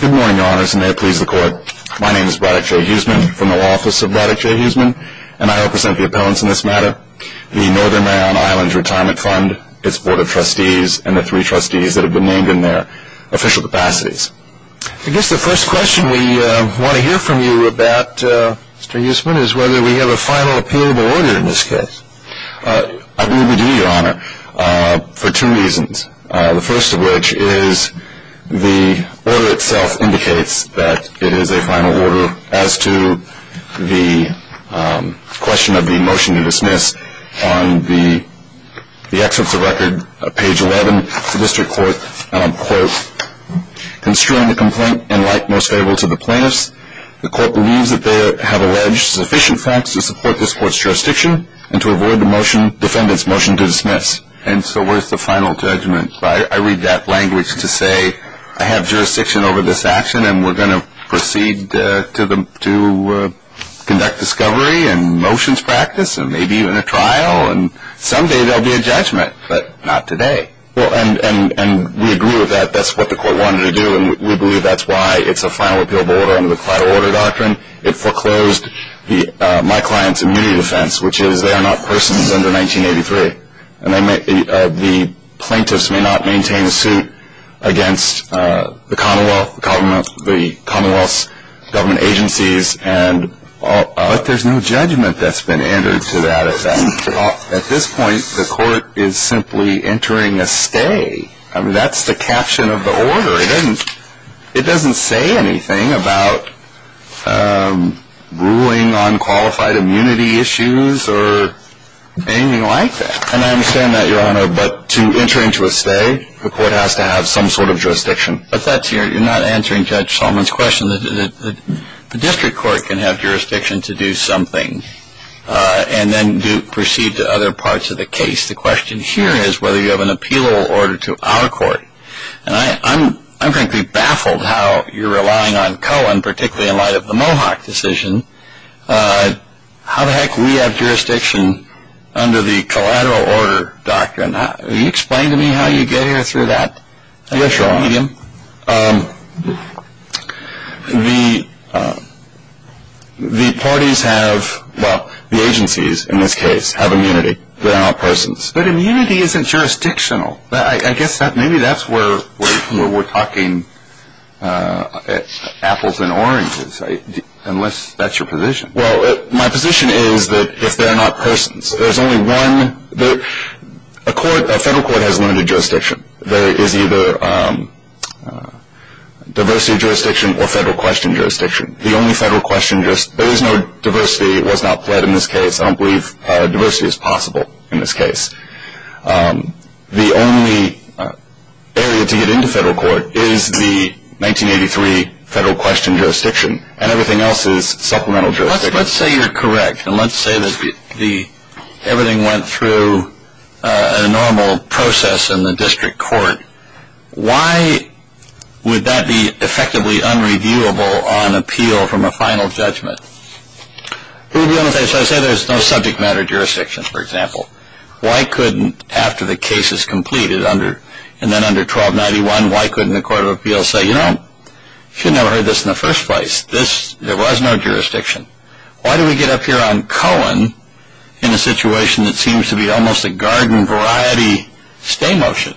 Good morning, your honors, and may it please the court. My name is Braddock J. Huseman from the office of Braddock J. Huseman, and I represent the appellants in this matter, the Northern Maryland Islands Retirement Fund, its Board of Trustees, and the three trustees that have been named in their official capacities. I guess the first question we want to hear from you about, Mr. Huseman, is whether we have a final appealable order in this case. I believe we do, your honor, for two reasons. The first of which is the order itself indicates that it is a final order as to the question of the motion to dismiss on the excerpts of record, page 11. And so where's the final judgment? I read that language to say, I have jurisdiction over this action, and we're going to proceed to conduct discovery and motions practice and maybe even a trial, and someday there will be a judgment, but not today. Well, and we agree with that. That's what the court wanted to do, and we believe that's why it's a final appealable order under the collateral order doctrine. It foreclosed my client's immunity defense, which is they are not persons under 1983. And the plaintiffs may not maintain a suit against the Commonwealth, the Commonwealth's government agencies. But there's no judgment that's been entered to that effect. At this point, the court is simply entering a stay. I mean, that's the caption of the order. It doesn't say anything about ruling on qualified immunity issues or anything like that. And I understand that, your honor, but to enter into a stay, the court has to have some sort of jurisdiction. You're not answering Judge Solomon's question. The district court can have jurisdiction to do something and then proceed to other parts of the case. The question here is whether you have an appealable order to our court. And I'm frankly baffled how you're relying on Cohen, particularly in light of the Mohawk decision. How the heck do we have jurisdiction under the collateral order doctrine? Can you explain to me how you get here through that? Yes, your honor. The parties have, well, the agencies, in this case, have immunity. They're not persons. But immunity isn't jurisdictional. I guess maybe that's where we're talking apples and oranges, unless that's your position. Well, my position is that if they're not persons, there's only one. A federal court has limited jurisdiction. There is either diversity of jurisdiction or federal question jurisdiction. The only federal question jurisdiction, there is no diversity. It was not pled in this case. I don't believe diversity is possible in this case. The only area to get into federal court is the 1983 federal question jurisdiction, and everything else is supplemental jurisdiction. Well, let's say you're correct, and let's say that everything went through a normal process in the district court. Why would that be effectively unreviewable on appeal from a final judgment? So I say there's no subject matter jurisdiction, for example. Why couldn't, after the case is completed and then under 1291, why couldn't the court of appeals say, you know, you should have heard this in the first place. There was no jurisdiction. Why do we get up here on Cohen in a situation that seems to be almost a garden variety stay motion?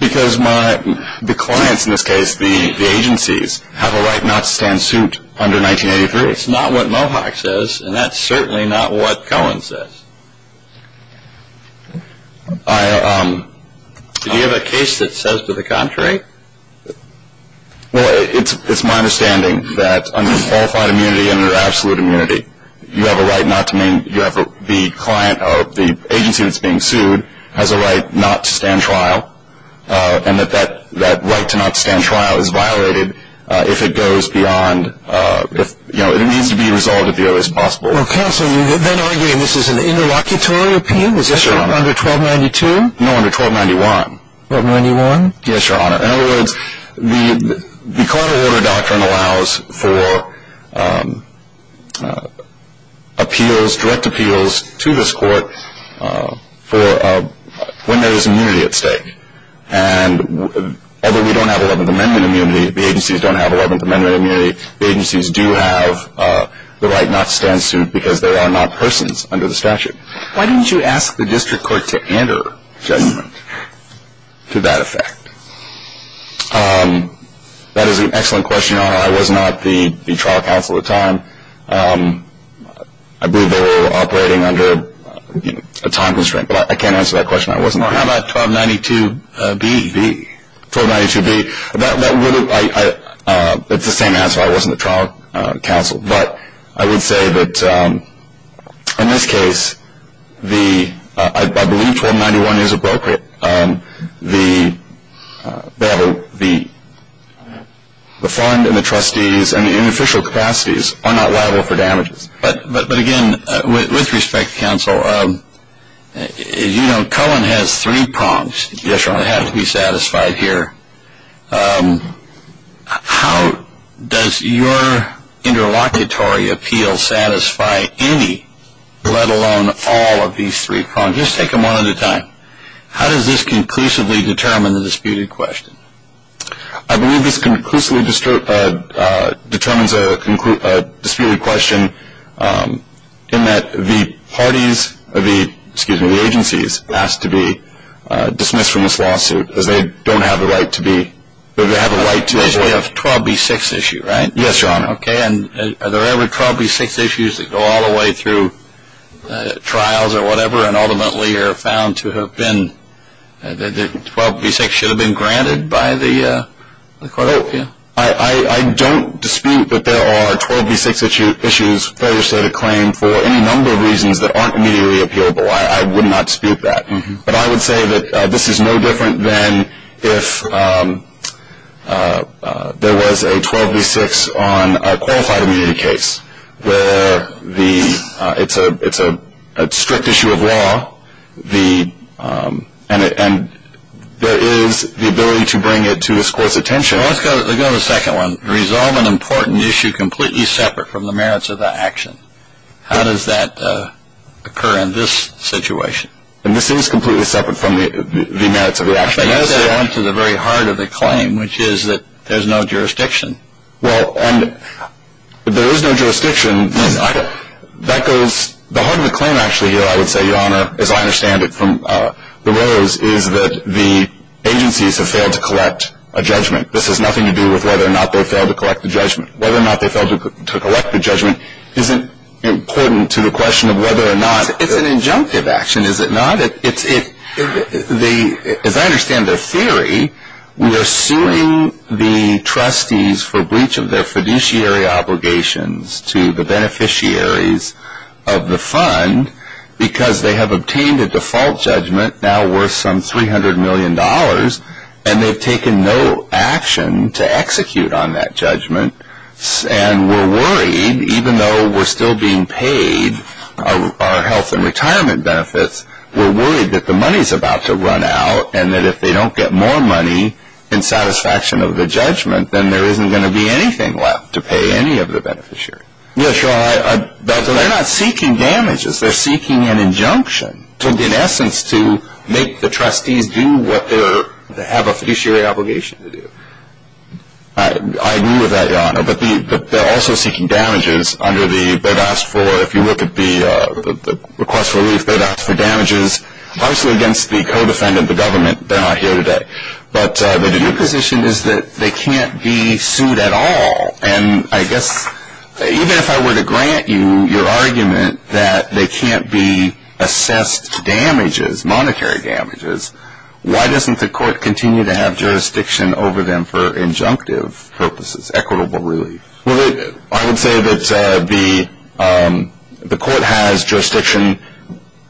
Because the clients in this case, the agencies, have a right not to stand suit under 1983. It's not what Mohawk says, and that's certainly not what Cohen says. Do you have a case that says to the contrary? Well, it's my understanding that under qualified immunity and under absolute immunity, you have a right not to main – you have a – the client or the agency that's being sued has a right not to stand trial, and that that right to not stand trial is violated if it goes beyond – if, you know, it needs to be resolved at the earliest possible. Well, counsel, you've been arguing this is an interlocutory appeal. Yes, Your Honor. Under 1292? No, under 1291. 1291? Yes, Your Honor. In other words, the court of order doctrine allows for appeals, direct appeals to this court for when there is immunity at stake. And although we don't have 11th Amendment immunity, the agencies don't have 11th Amendment immunity, the agencies do have the right not to stand suit because there are not persons under the statute. Why didn't you ask the district court to enter judgment to that effect? That is an excellent question, Your Honor. I was not the trial counsel at the time. I believe they were operating under a time constraint, but I can't answer that question. I wasn't there. Well, how about 1292B? 1292B, that would have – it's the same answer. I wasn't the trial counsel. But I would say that in this case, I believe 1291 is appropriate. The fund and the trustees and the official capacities are not liable for damages. But, again, with respect, counsel, you know Cullen has three prongs that have to be satisfied here. How does your interlocutory appeal satisfy any, let alone all, of these three prongs? Just take them one at a time. How does this conclusively determine the disputed question? I believe this conclusively determines a disputed question in that the parties, excuse me, the agencies ask to be dismissed from this lawsuit because they don't have the right to be – they have a right to – Because you have a 12B6 issue, right? Yes, Your Honor. Okay. And are there ever 12B6 issues that go all the way through trials or whatever and ultimately are found to have been – the 12B6 should have been granted by the court? I don't dispute that there are 12B6 issues further stated claim for any number of reasons that aren't immediately appealable. I would not dispute that. But I would say that this is no different than if there was a 12B6 on a qualified immunity case where it's a strict issue of law and there is the ability to bring it to the court's attention. Let's go to the second one. Resolve an important issue completely separate from the merits of the action. How does that occur in this situation? And this is completely separate from the merits of the action. But you said it went to the very heart of the claim, which is that there's no jurisdiction. Well, and if there is no jurisdiction, that goes – the heart of the claim actually here, I would say, Your Honor, as I understand it from the Rose, is that the agencies have failed to collect a judgment. This has nothing to do with whether or not they failed to collect a judgment. Whether or not they failed to collect a judgment isn't important to the question of whether or not – It's an injunctive action, is it not? As I understand their theory, we are suing the trustees for breach of their fiduciary obligations to the beneficiaries of the fund because they have obtained a default judgment now worth some $300 million, and they've taken no action to execute on that judgment. And we're worried, even though we're still being paid our health and retirement benefits, we're worried that the money's about to run out and that if they don't get more money in satisfaction of the judgment, then there isn't going to be anything left to pay any of the beneficiaries. Yes, Your Honor, but they're not seeking damages. They're seeking an injunction in essence to make the trustees do what they have a fiduciary obligation to do. I agree with that, Your Honor, but they're also seeking damages under the – they've asked for, if you look at the request for relief, they've asked for damages, partially against the co-defendant of the government. They're not here today. But their position is that they can't be sued at all. And I guess even if I were to grant you your argument that they can't be assessed damages, monetary damages, why doesn't the court continue to have jurisdiction over them for injunctive purposes, equitable relief? Well, I would say that the court has jurisdiction –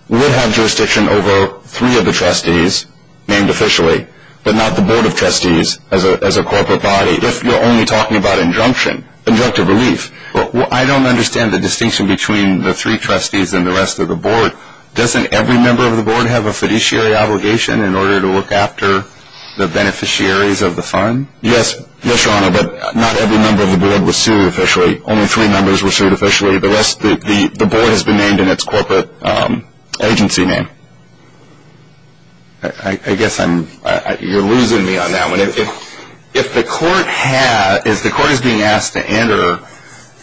would have jurisdiction over three of the trustees named officially, but not the board of trustees as a corporate body. If you're only talking about injunction, injunctive relief, I don't understand the distinction between the three trustees and the rest of the board. Doesn't every member of the board have a fiduciary obligation in order to look after the beneficiaries of the fund? Yes, Your Honor, but not every member of the board was sued officially. Only three members were sued officially. The rest – the board has been named in its corporate agency name. I guess I'm – you're losing me on that one. If the court has – if the court is being asked to enter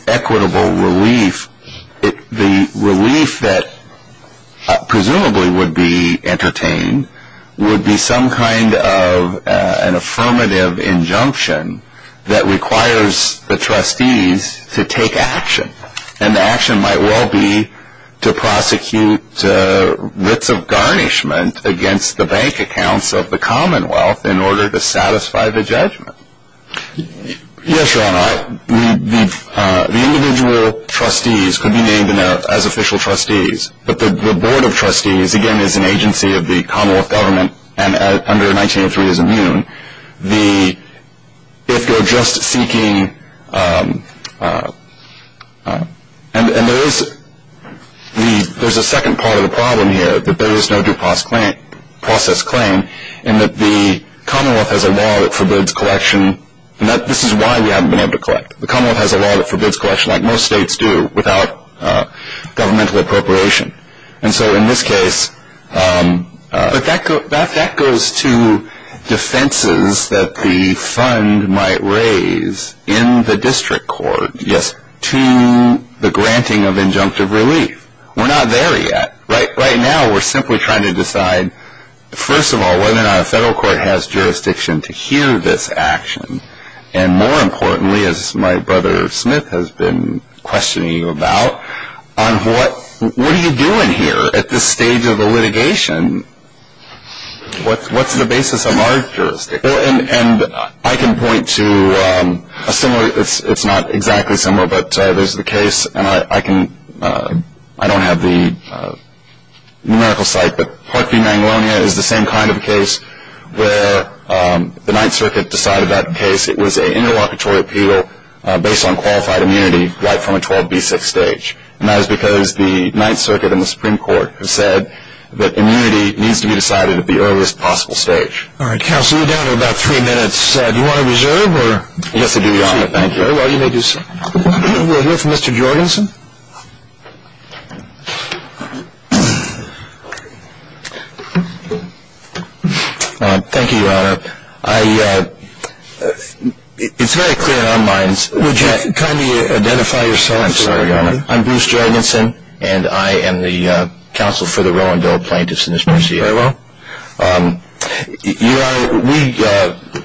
equitable relief, the relief that presumably would be entertained would be some kind of an affirmative injunction that requires the trustees to take action. And the action might well be to prosecute writs of garnishment against the bank accounts of the commonwealth in order to satisfy the judgment. Yes, Your Honor, the individual trustees could be named as official trustees, but the board of trustees, again, is an agency of the commonwealth government and under 1903 is immune. The – if you're just seeking – and there is – there's a second part of the problem here, that there is no due process claim and that the commonwealth has a law that forbids collection. This is why we haven't been able to collect. The commonwealth has a law that forbids collection, like most states do, without governmental appropriation. And so in this case – But that goes to defenses that the fund might raise in the district court. Yes, to the granting of injunctive relief. We're not there yet. Right now we're simply trying to decide, first of all, whether or not a federal court has jurisdiction to hear this action. And more importantly, as my brother Smith has been questioning you about, on what are you doing here at this stage of the litigation? What's the basis of our jurisdiction? And I can point to a similar – it's not exactly similar, but there's the case, and I can – I don't have the numerical site, but Hart v. Mangolonia is the same kind of case where the Ninth Circuit decided that case. It was an interlocutory appeal based on qualified immunity right from a 12b6 stage. And that is because the Ninth Circuit and the Supreme Court have said that immunity needs to be decided at the earliest possible stage. All right, counsel, you're down to about three minutes. Do you want to reserve or – Yes, I do, Your Honor. Thank you. Very well, you may do so. We'll hear from Mr. Jorgensen. Thank you, Your Honor. I – it's very clear in our minds that – Would you kindly identify yourself? I'm sorry, Your Honor. I'm Bruce Jorgensen, and I am the counsel for the Roe and Doe plaintiffs in this mercy area. Very well. Your Honor, we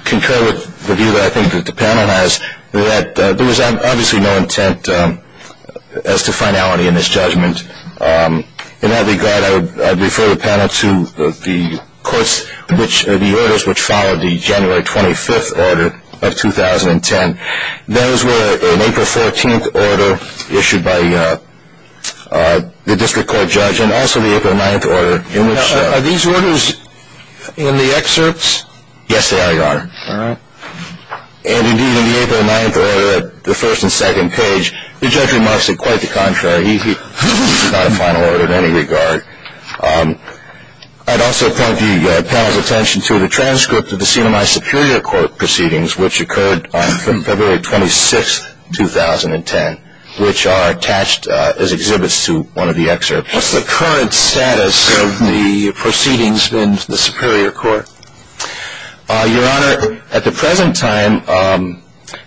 concur with the view that I think that the panel has that there was obviously no intent as to finality in this judgment. In that regard, I would refer the panel to the courts which – the orders which followed the January 25th order of 2010. Those were an April 14th order issued by the district court judge and also the April 9th order in which – Now, are these orders in the excerpts? Yes, they are, Your Honor. All right. And, indeed, in the April 9th order, the first and second page, the judge remarks it quite the contrary. He's not a final order in any regard. I'd also point the panel's attention to the transcript of the Senate Superior Court proceedings which occurred on February 26th, 2010, which are attached as exhibits to one of the excerpts. What's the current status of the proceedings in the Superior Court? Your Honor, at the present time,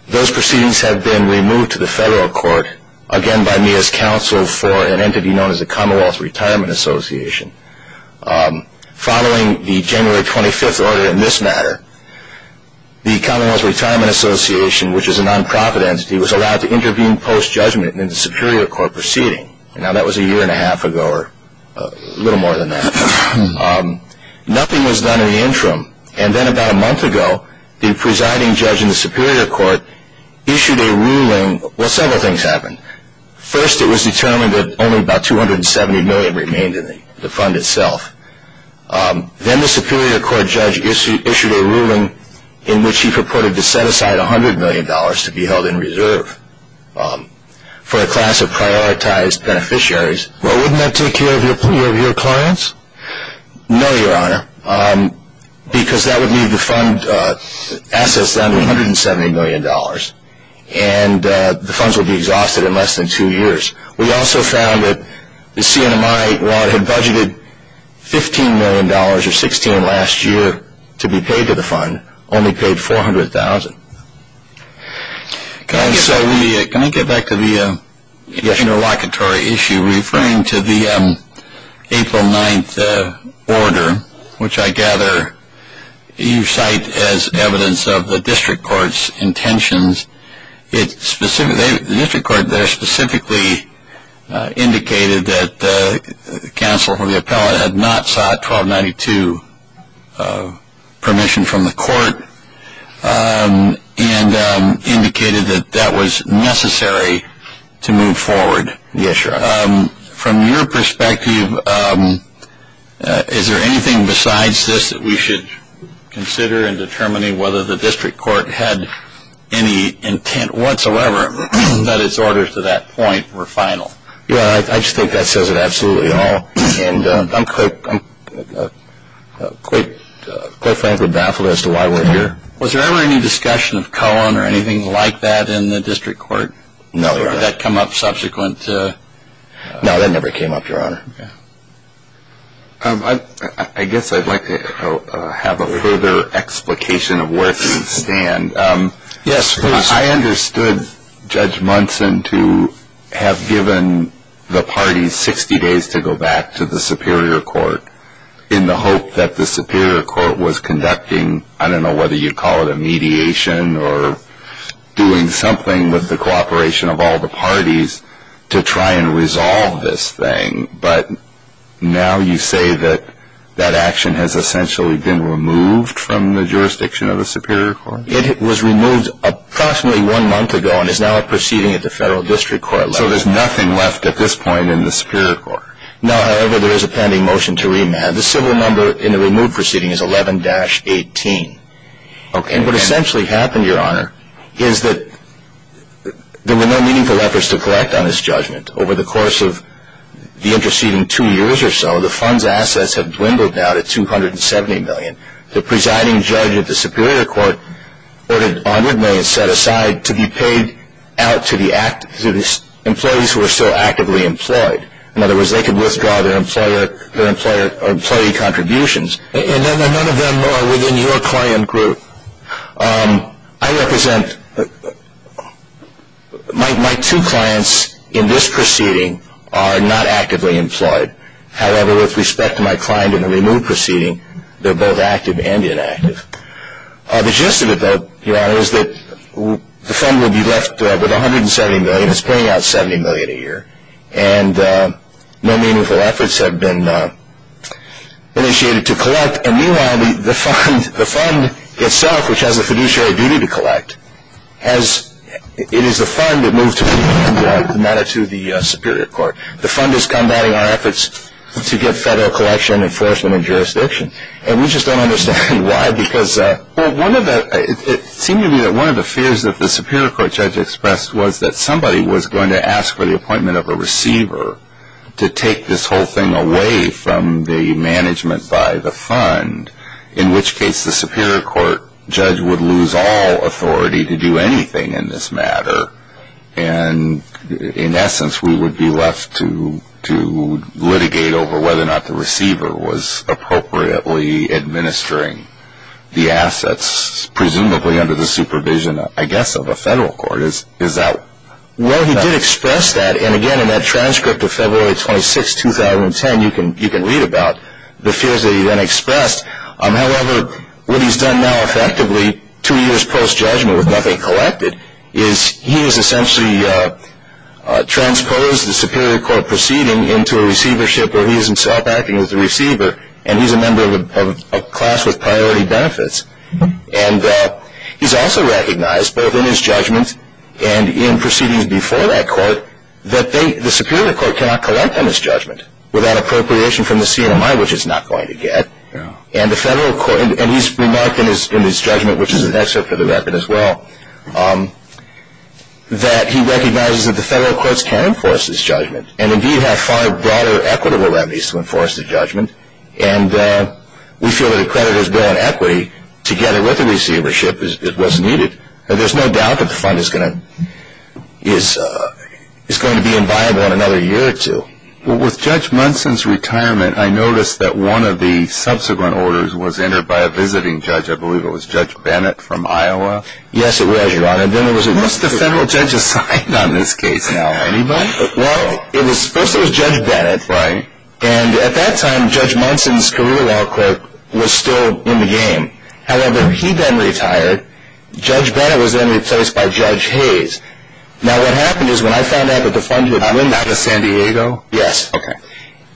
those proceedings have been removed to the federal court, again by me as counsel for an entity known as the Commonwealth Retirement Association. Following the January 25th order in this matter, the Commonwealth Retirement Association, which is a nonprofit entity, was allowed to intervene post-judgment in the Superior Court proceeding. Now, that was a year and a half ago or a little more than that. Nothing was done in the interim. And then about a month ago, the presiding judge in the Superior Court issued a ruling. Well, several things happened. First, it was determined that only about $270 million remained in the fund itself. Then the Superior Court judge issued a ruling in which he purported to set aside $100 million to be held in reserve for a class of prioritized beneficiaries. Well, wouldn't that take care of your clients? No, Your Honor, because that would leave the fund assets down to $170 million, and the funds would be exhausted in less than two years. We also found that the CNMI, while it had budgeted $15 million or $16 million last year to be paid to the fund, only paid $400,000. So let me get back to the interlocutory issue. Referring to the April 9th order, which I gather you cite as evidence of the district court's intentions, the district court there specifically indicated that counsel or the appellate had not sought 1292 permission from the court and indicated that that was necessary to move forward. Yes, Your Honor. From your perspective, is there anything besides this that we should consider in determining whether the district court had any intent whatsoever that its orders to that point were final? Yeah, I just think that says it absolutely all. And I'm quite frankly baffled as to why we're here. Was there ever any discussion of Cohen or anything like that in the district court? No, Your Honor. Did that come up subsequent? No, that never came up, Your Honor. I guess I'd like to have a further explication of where things stand. Yes, please. I understood Judge Munson to have given the parties 60 days to go back to the superior court in the hope that the superior court was conducting, I don't know whether you'd call it a mediation or doing something with the cooperation of all the parties to try and resolve this thing. But now you say that that action has essentially been removed from the jurisdiction of the superior court? It was removed approximately one month ago and is now a proceeding at the federal district court level. So there's nothing left at this point in the superior court? No, however, there is a pending motion to remand. The civil number in the removed proceeding is 11-18. Okay. And what essentially happened, Your Honor, is that there were no meaningful efforts to collect on this judgment. Over the course of the interceding two years or so, the fund's assets have dwindled down to 270 million. The presiding judge of the superior court ordered 100 million set aside to be paid out to the employees who are still actively employed. In other words, they could withdraw their employee contributions. And none of them are within your client group. I represent my two clients in this proceeding are not actively employed. However, with respect to my client in the removed proceeding, they're both active and inactive. The gist of it, though, Your Honor, is that the fund will be left with 170 million. It's paying out 70 million a year. And no meaningful efforts have been initiated to collect. And meanwhile, the fund itself, which has a fiduciary duty to collect, it is the fund that moved to remand the matter to the superior court. The fund is combating our efforts to get federal collection, enforcement, and jurisdiction. And we just don't understand why because one of the fears that the superior court judge expressed was that somebody was going to ask for the appointment of a receiver to take this whole thing away from the management by the fund, in which case the superior court judge would lose all authority to do anything in this matter. And, in essence, we would be left to litigate over whether or not the receiver was appropriately administering the assets, presumably under the supervision, I guess, of a federal court. Is that? Well, he did express that. And, again, in that transcript of February 26, 2010, you can read about the fears that he then expressed. However, what he's done now, effectively, two years post-judgment with nothing collected, is he has essentially transposed the superior court proceeding into a receivership where he is himself acting as the receiver, and he's a member of a class with priority benefits. And he's also recognized, both in his judgment and in proceedings before that court, that the superior court cannot collect on his judgment without appropriation from the CNMI, which it's not going to get. And he's remarked in his judgment, which is an excerpt from the record as well, that he recognizes that the federal courts can enforce his judgment and, indeed, have far broader equitable remedies to enforce his judgment. And we feel that a creditor's bill on equity, together with the receivership, is what's needed. There's no doubt that the fund is going to be inviolable in another year or two. Well, with Judge Munson's retirement, I noticed that one of the subsequent orders was entered by a visiting judge. I believe it was Judge Bennett from Iowa. Yes, it was, Your Honor. Most of the federal judges signed on this case now. Anybody? Well, first it was Judge Bennett. Right. And at that time, Judge Munson's career law clerk was still in the game. However, he then retired. Judge Bennett was then replaced by Judge Hayes. Now, what happened is, when I found out that the fund had been dwindled. Out of San Diego? Yes. Okay.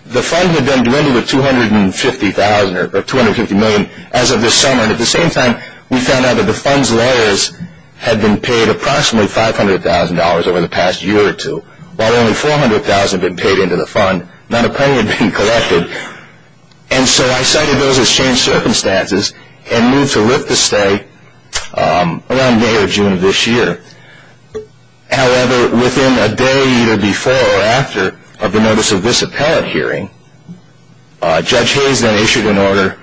The fund had been dwindled to $250,000 or $250 million as of this summer. And at the same time, we found out that the fund's lawyers had been paid approximately $500,000 over the past year or two, while only $400,000 had been paid into the fund. Not a penny had been collected. And so I cited those as changed circumstances and moved to lift the stay around May or June of this year. However, within a day either before or after of the notice of this appellate hearing, Judge Hayes then issued an order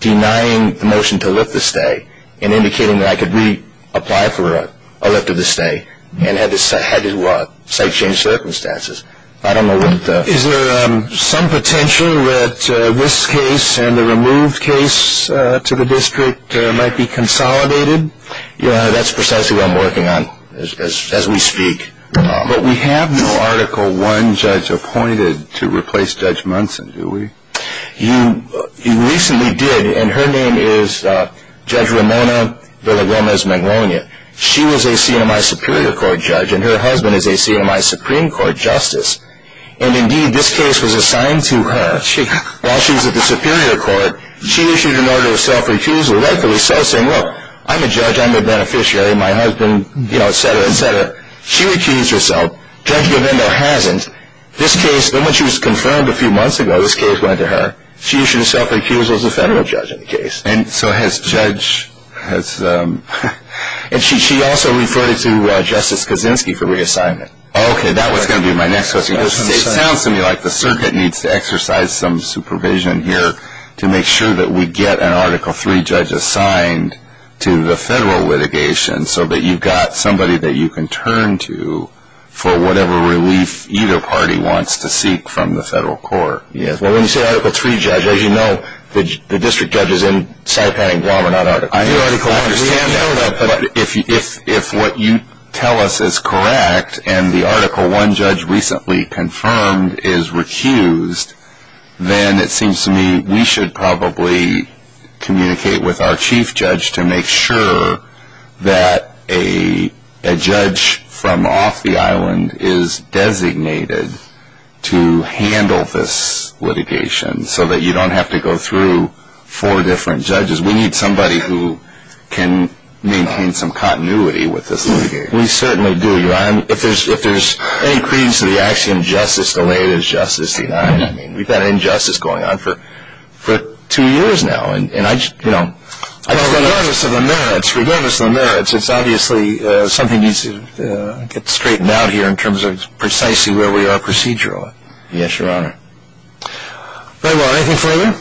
denying the motion to lift the stay and indicating that I could reapply for a lift of the stay and had to cite changed circumstances. Is there some potential that this case and the removed case to the district might be consolidated? Yeah, that's precisely what I'm working on as we speak. But we have no Article I judge appointed to replace Judge Munson, do we? You recently did, and her name is Judge Ramona Villa-Gomez-Magnolia. She was a CNMI Superior Court judge, and her husband is a CNMI Supreme Court justice. And indeed, this case was assigned to her while she was at the Superior Court. She issued an order of self-recusal, rightfully so, saying, look, I'm a judge, I'm a beneficiary, my husband, you know, et cetera, et cetera. She recused herself. Judge Govindo hasn't. This case, when she was confirmed a few months ago, this case went to her. She issued a self-recusal as a federal judge in the case. And so has Judge – and she also referred it to Justice Kaczynski for reassignment. Okay, that was going to be my next question. It sounds to me like the circuit needs to exercise some supervision here to make sure that we get an Article III judge assigned to the federal litigation so that you've got somebody that you can turn to for whatever relief either party wants to seek from the federal court. Well, when you say Article III judge, as you know, the district judge is in Saipan and Guam and not Article III. I understand that, but if what you tell us is correct and the Article I judge recently confirmed is recused, then it seems to me we should probably communicate with our chief judge to make sure that a judge from off the island is designated to handle this litigation so that you don't have to go through four different judges. We need somebody who can maintain some continuity with this litigation. We certainly do. If there's any credence to the axiom justice delayed is justice denied, we've had injustice going on for two years now. Regardless of the merits, it's obviously something needs to get straightened out here in terms of precisely where we are procedurally. Yes, Your Honor. Very well. Anything further?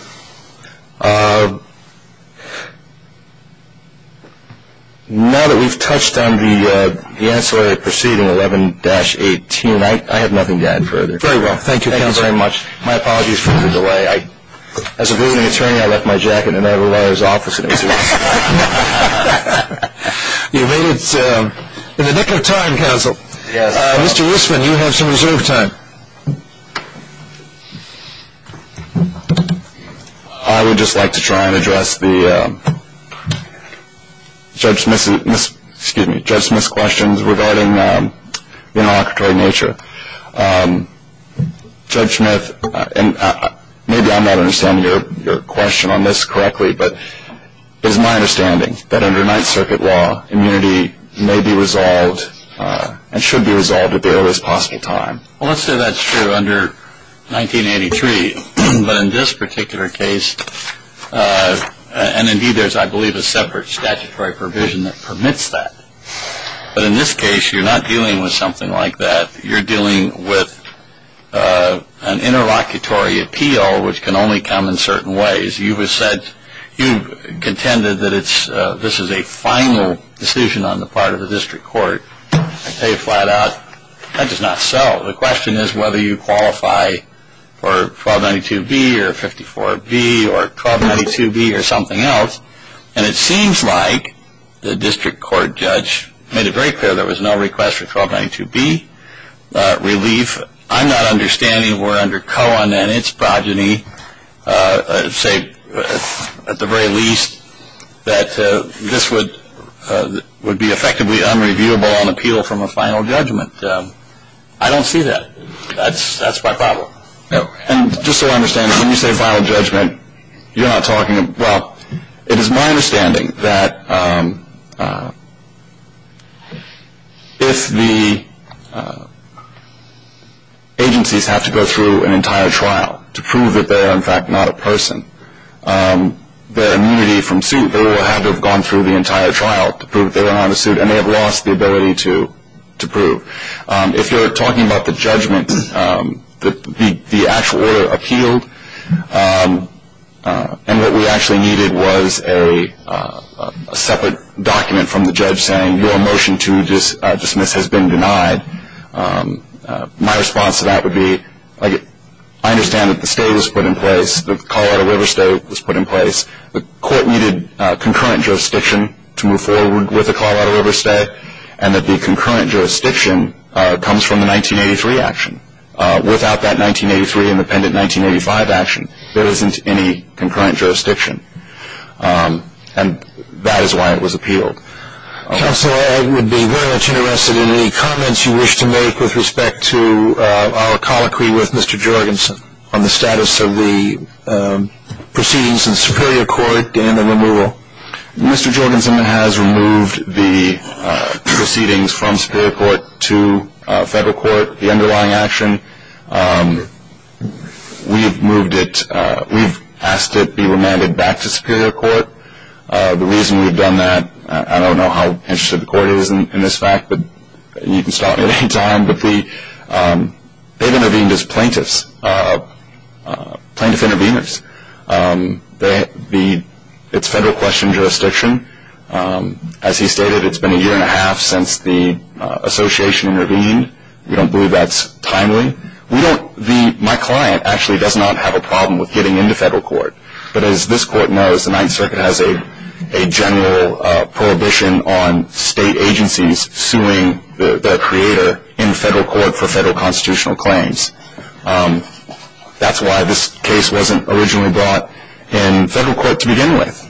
Now that we've touched on the ancillary proceeding 11-18, I have nothing to add further. Very well. Thank you, Counselor. Thank you very much. My apologies for the delay. As a visiting attorney, I left my jacket in Ed O'Leary's office and it was his. You made it in the nick of time, Counsel. Mr. Wissman, you have some reserve time. I would just like to try and address Judge Smith's questions regarding the inauguratory nature. Judge Smith, maybe I'm not understanding your question on this correctly, but it is my understanding that under Ninth Circuit law, immunity may be resolved and should be resolved at the earliest possible time. Well, let's say that's true under 1983. But in this particular case, and indeed there's, I believe, a separate statutory provision that permits that. But in this case, you're not dealing with something like that. You're dealing with an interlocutory appeal, which can only come in certain ways. You've contended that this is a final decision on the part of the district court. I'll tell you flat out, that is not so. The question is whether you qualify for 1292B or 54B or 1292B or something else. And it seems like the district court judge made it very clear there was no request for 1292B relief. I'm not understanding where under Cohen and its progeny, say at the very least, that this would be effectively unreviewable on appeal from a final judgment. I don't see that. That's my problem. And just so I understand, when you say final judgment, you're not talking about It is my understanding that if the agencies have to go through an entire trial to prove that they are, in fact, not a person, their immunity from suit, they will have to have gone through the entire trial to prove they were not a suit, and they have lost the ability to prove. If you're talking about the judgment, the actual order appealed, and what we actually needed was a separate document from the judge saying, your motion to dismiss has been denied. My response to that would be, I understand that the state was put in place, the Colorado River State was put in place. The court needed concurrent jurisdiction to move forward with the Colorado River State, and that the concurrent jurisdiction comes from the 1983 action. Without that 1983 independent 1985 action, there isn't any concurrent jurisdiction. And that is why it was appealed. Counsel, I would be very much interested in any comments you wish to make with respect to our colloquy with Mr. Jorgensen on the status of the proceedings in the superior court and the removal. Mr. Jorgensen has removed the proceedings from superior court to federal court. The underlying action, we have moved it, we've asked it be remanded back to superior court. The reason we've done that, I don't know how interested the court is in this fact, but you can stop me at any time, but they've intervened as plaintiffs, plaintiff interveners. It's federal question jurisdiction. As he stated, it's been a year and a half since the association intervened. We don't believe that's timely. My client actually does not have a problem with getting into federal court. But as this court knows, the Ninth Circuit has a general prohibition on state agencies suing their creator in federal court for federal constitutional claims. That's why this case wasn't originally brought in federal court to begin with.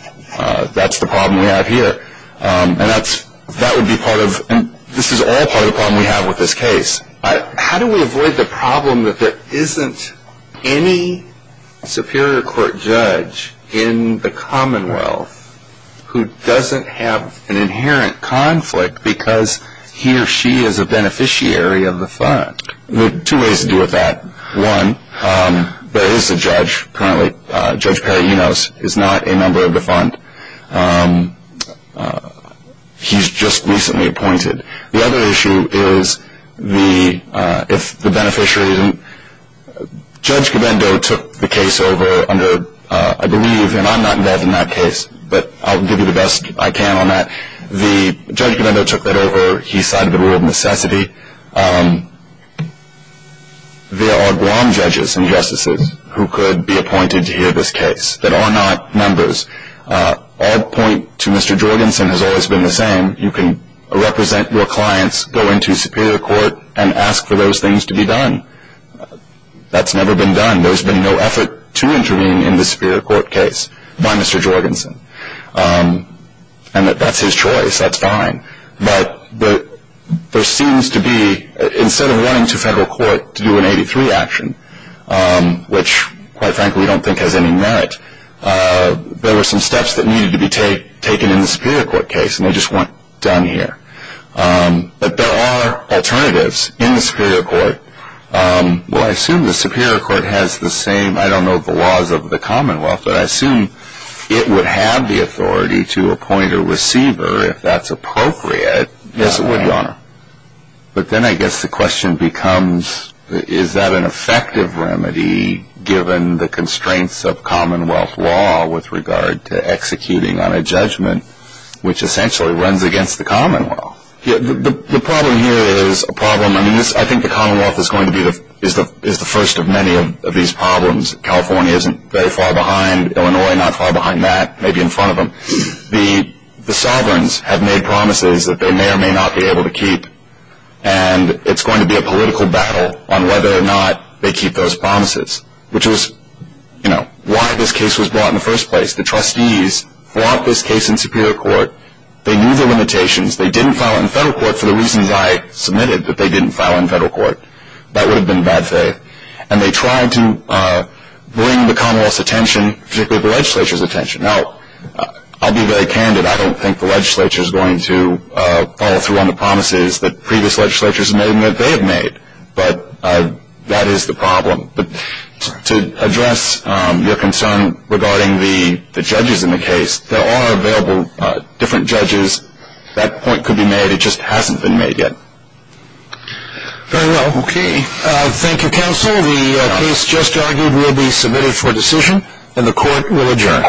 That's the problem we have here. And that would be part of, and this is all part of the problem we have with this case. How do we avoid the problem that there isn't any superior court judge in the Commonwealth who doesn't have an inherent conflict because he or she is a beneficiary of the fund? There are two ways to deal with that. One, there is a judge currently. Judge Perrinos is not a member of the fund. He's just recently appointed. The other issue is if the beneficiary isn't. Judge Gabendo took the case over under, I believe, and I'm not involved in that case, but I'll give you the best I can on that. The judge Gabendo took that over. He cited the rule of necessity. There are Guam judges and justices who could be appointed to hear this case that are not members. Our point to Mr. Jorgensen has always been the same. You can represent your clients, go into superior court, and ask for those things to be done. That's never been done. There's been no effort to intervene in the superior court case by Mr. Jorgensen. And that's his choice. That's fine. But there seems to be, instead of running to federal court to do an 83 action, which quite frankly I don't think has any merit, there were some steps that needed to be taken in the superior court case, and they just weren't done here. But there are alternatives in the superior court. Well, I assume the superior court has the same, I don't know the laws of the Commonwealth, but I assume it would have the authority to appoint a receiver if that's appropriate. Yes, it would, Your Honor. But then I guess the question becomes is that an effective remedy given the constraints of Commonwealth law with regard to executing on a judgment which essentially runs against the Commonwealth? The problem here is a problem, I mean, I think the Commonwealth is going to be the first of many of these problems. California isn't very far behind. Illinois not far behind that, maybe in front of them. The sovereigns have made promises that they may or may not be able to keep, and it's going to be a political battle on whether or not they keep those promises, which was why this case was brought in the first place. The trustees brought this case in superior court. They knew the limitations. They didn't file it in federal court for the reasons I submitted, that they didn't file it in federal court. That would have been bad faith. And they tried to bring the Commonwealth's attention, particularly the legislature's attention. Now, I'll be very candid. I don't think the legislature is going to follow through on the promises that previous legislatures have made and that they have made, but that is the problem. But to address your concern regarding the judges in the case, there are available different judges. That point could be made. It just hasn't been made yet. Very well. Okay. Thank you, counsel. The case just argued will be submitted for decision, and the court will adjourn.